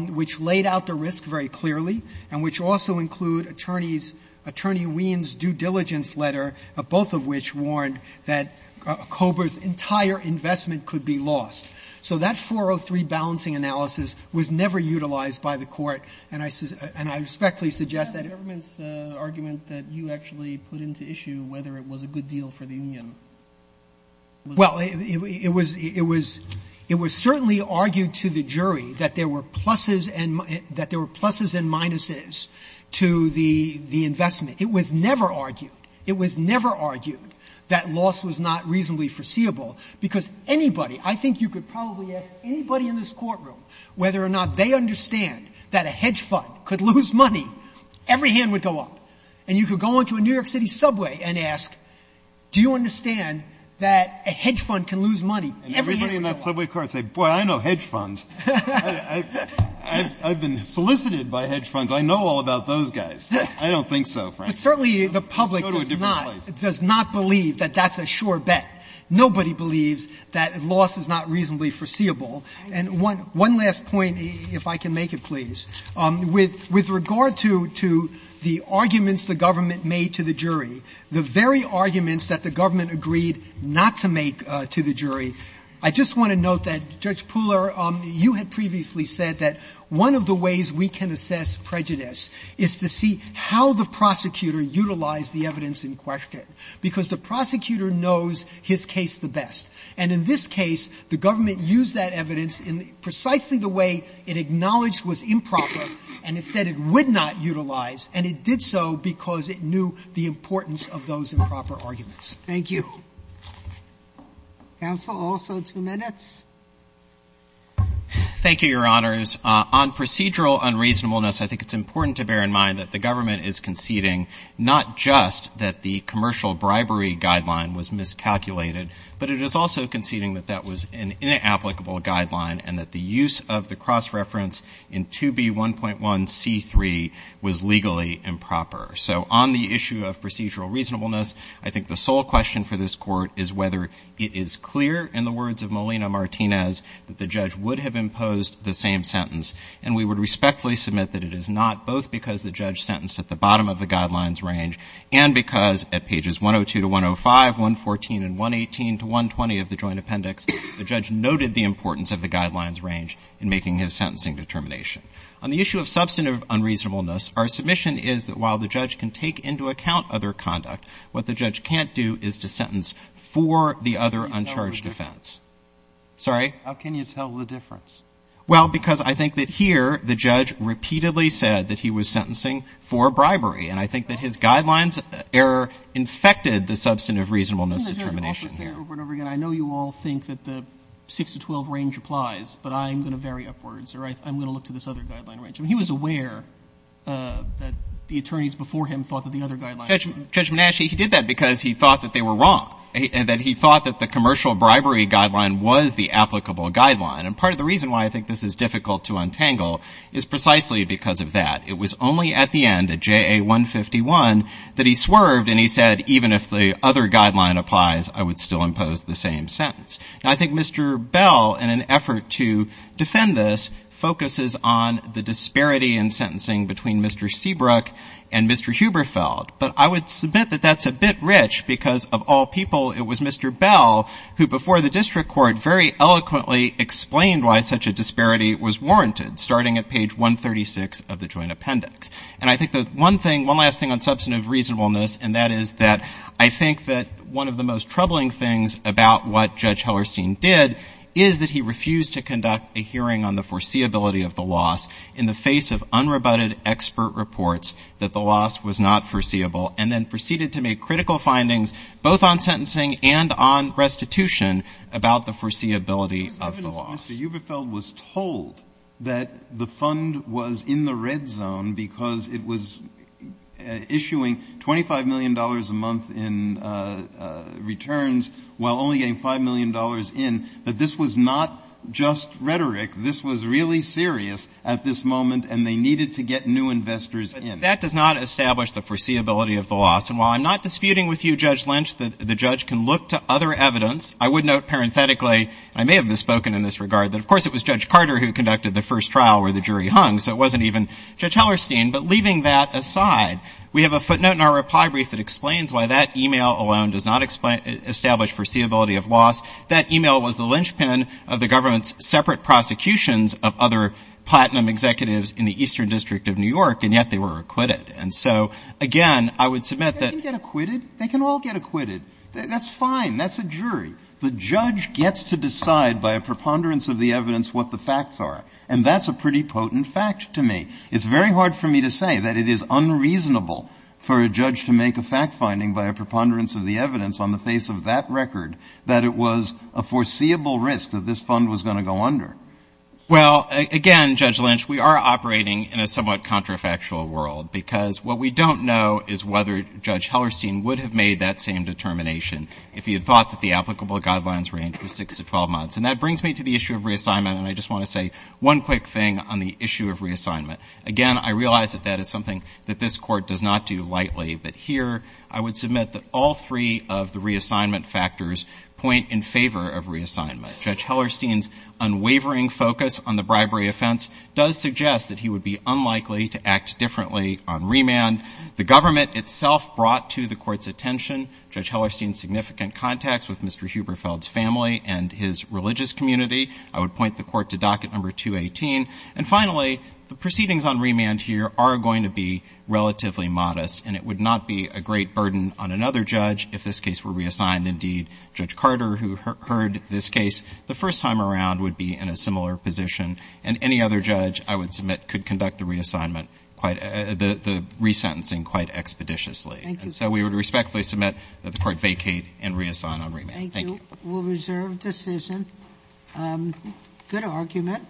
which laid out the risk very clearly, and which also include Attorney Wein's due diligence letter, both of which warned that Kober's entire investment could be lost. So that 403 balancing analysis was never utilized by the court. And I respectfully suggest that it was. Roberts. And the government's argument that you actually put into issue whether it was a good deal for the union was? Well, it was certainly argued to the jury that there were pluses and minuses to the investment. It was never argued. It was never argued that loss was not reasonably foreseeable, because anybody I think you could probably ask anybody in this courtroom whether or not they understand that a hedge fund could lose money. Every hand would go up. And you could go into a New York City subway and ask, do you understand that a hedge fund can lose money? Every hand would go up. And everybody in that subway car would say, boy, I know hedge funds. I've been solicited by hedge funds. I know all about those guys. I don't think so, Frank. But certainly the public does not. Go to a different place. Does not believe that that's a sure bet. Nobody believes that loss is not reasonably foreseeable. And one last point, if I can make it, please. With regard to the arguments the government made to the jury, the very arguments that the government agreed not to make to the jury, I just want to note that, Judge Pooler, you had previously said that one of the ways we can assess prejudice is to see how the prosecutor utilized the evidence in question, because the prosecutor knows his case the best. And in this case, the government used that evidence in precisely the way it acknowledged was improper, and it said it would not utilize, and it did so because it knew the importance of those improper arguments. Thank you. Counsel, also two minutes. Thank you, Your Honors. On procedural unreasonableness, I think it's important to bear in mind that the government is conceding not just that the commercial bribery guideline was miscalculated, but it is also conceding that that was an inapplicable guideline and that the use of the cross-reference in 2B1.1c3 was legally improper. So on the issue of procedural reasonableness, I think the sole question for this Court is whether it is clear in the words of Molina-Martinez that the judge would have imposed the same sentence. And we would respectfully submit that it is not, both because the judge sentenced at the bottom of the guidelines range and because at pages 102 to 105, 114, and 118 to 120 of the joint appendix, the judge noted the importance of the guidelines range in making his sentencing determination. On the issue of substantive unreasonableness, our submission is that while the judge can take into account other conduct, what the judge can't do is to sentence for the other uncharged offense. Sorry? How can you tell the difference? Well, because I think that here the judge repeatedly said that he was sentencing for bribery. And I think that his guidelines error infected the substantive reasonableness determination here. I know you all think that the 6 to 12 range applies, but I'm going to vary upwards or I'm going to look to this other guideline range. I mean, he was aware that the attorneys before him thought that the other guidelines were wrong. Judge Menasche, he did that because he thought that they were wrong and that he thought that the commercial bribery guideline was the applicable guideline. And part of the reason why I think this is difficult to untangle is precisely because of that. It was only at the end, at JA 151, that he swerved and he said, even if the other guideline applies, I would still impose the same sentence. Now, I think Mr. Bell, in an effort to defend this, focuses on the disparity in sentencing between Mr. Seabrook and Mr. Huberfeld. But I would submit that that's a bit rich because, of all people, it was Mr. Bell who, before the district court, very eloquently explained why such a disparity was warranted, starting at page 136 of the joint appendix. And I think that one thing, one last thing on substantive reasonableness, and that is that I think that one of the most troubling things about what Judge Hellerstein did is that he refused to conduct a hearing on the foreseeability of the loss in the face of unrebutted expert reports that the loss was not foreseeable, and then proceeded to make critical findings both on sentencing and on restitution about the foreseeability of the loss. Mr. Huberfeld was told that the fund was in the red zone because it was issuing $25 million a month in returns while only getting $5 million in, but this was not just rhetoric. This was really serious at this moment, and they needed to get new investors in. But that does not establish the foreseeability of the loss. And while I'm not disputing with you, Judge Lynch, that the judge can look to other evidence, I would note parenthetically, I may have misspoken in this regard, that of course it was Judge Carter who conducted the first trial where the jury hung, so it wasn't even Judge Hellerstein. But leaving that aside, we have a footnote in our reply brief that explains why that e-mail alone does not establish foreseeability of loss. That e-mail was the linchpin of the government's separate prosecutions of other platinum executives in the Eastern District of New York, and yet they were acquitted. And so, again, I would submit that they can get acquitted. They can all get acquitted. That's fine. That's a jury. The judge gets to decide by a preponderance of the evidence what the facts are, and that's a pretty potent fact to me. It's very hard for me to say that it is unreasonable for a judge to make a fact finding by a preponderance of the evidence on the face of that record that it was a foreseeable risk that this fund was going to go under. Well, again, Judge Lynch, we are operating in a somewhat contrafactual world because what we don't know is whether Judge Hellerstein would have made that same determination if he had thought that the applicable guidelines range was 6 to 12 months. And that brings me to the issue of reassignment, and I just want to say one quick thing on the issue of reassignment. Again, I realize that that is something that this Court does not do lightly, but here I would submit that all three of the reassignment factors point in favor of reassignment. Judge Hellerstein's unwavering focus on the bribery offense does suggest that he would be unlikely to act differently on remand. The government itself brought to the Court's attention Judge Hellerstein's significant contacts with Mr. Huberfeld's family and his religious community. I would point the Court to Docket Number 218. And finally, the proceedings on remand here are going to be relatively modest, and it would not be a great burden on another judge if this case were reassigned. Indeed, Judge Carter, who heard this case the first time around, would be in a similar position. And any other judge, I would submit, could conduct the reassignment quite – the resentencing quite expeditiously. Thank you. And so we would respectfully submit that the Court vacate and reassign on remand. Thank you. Thank you. We'll reserve decision. Good argument.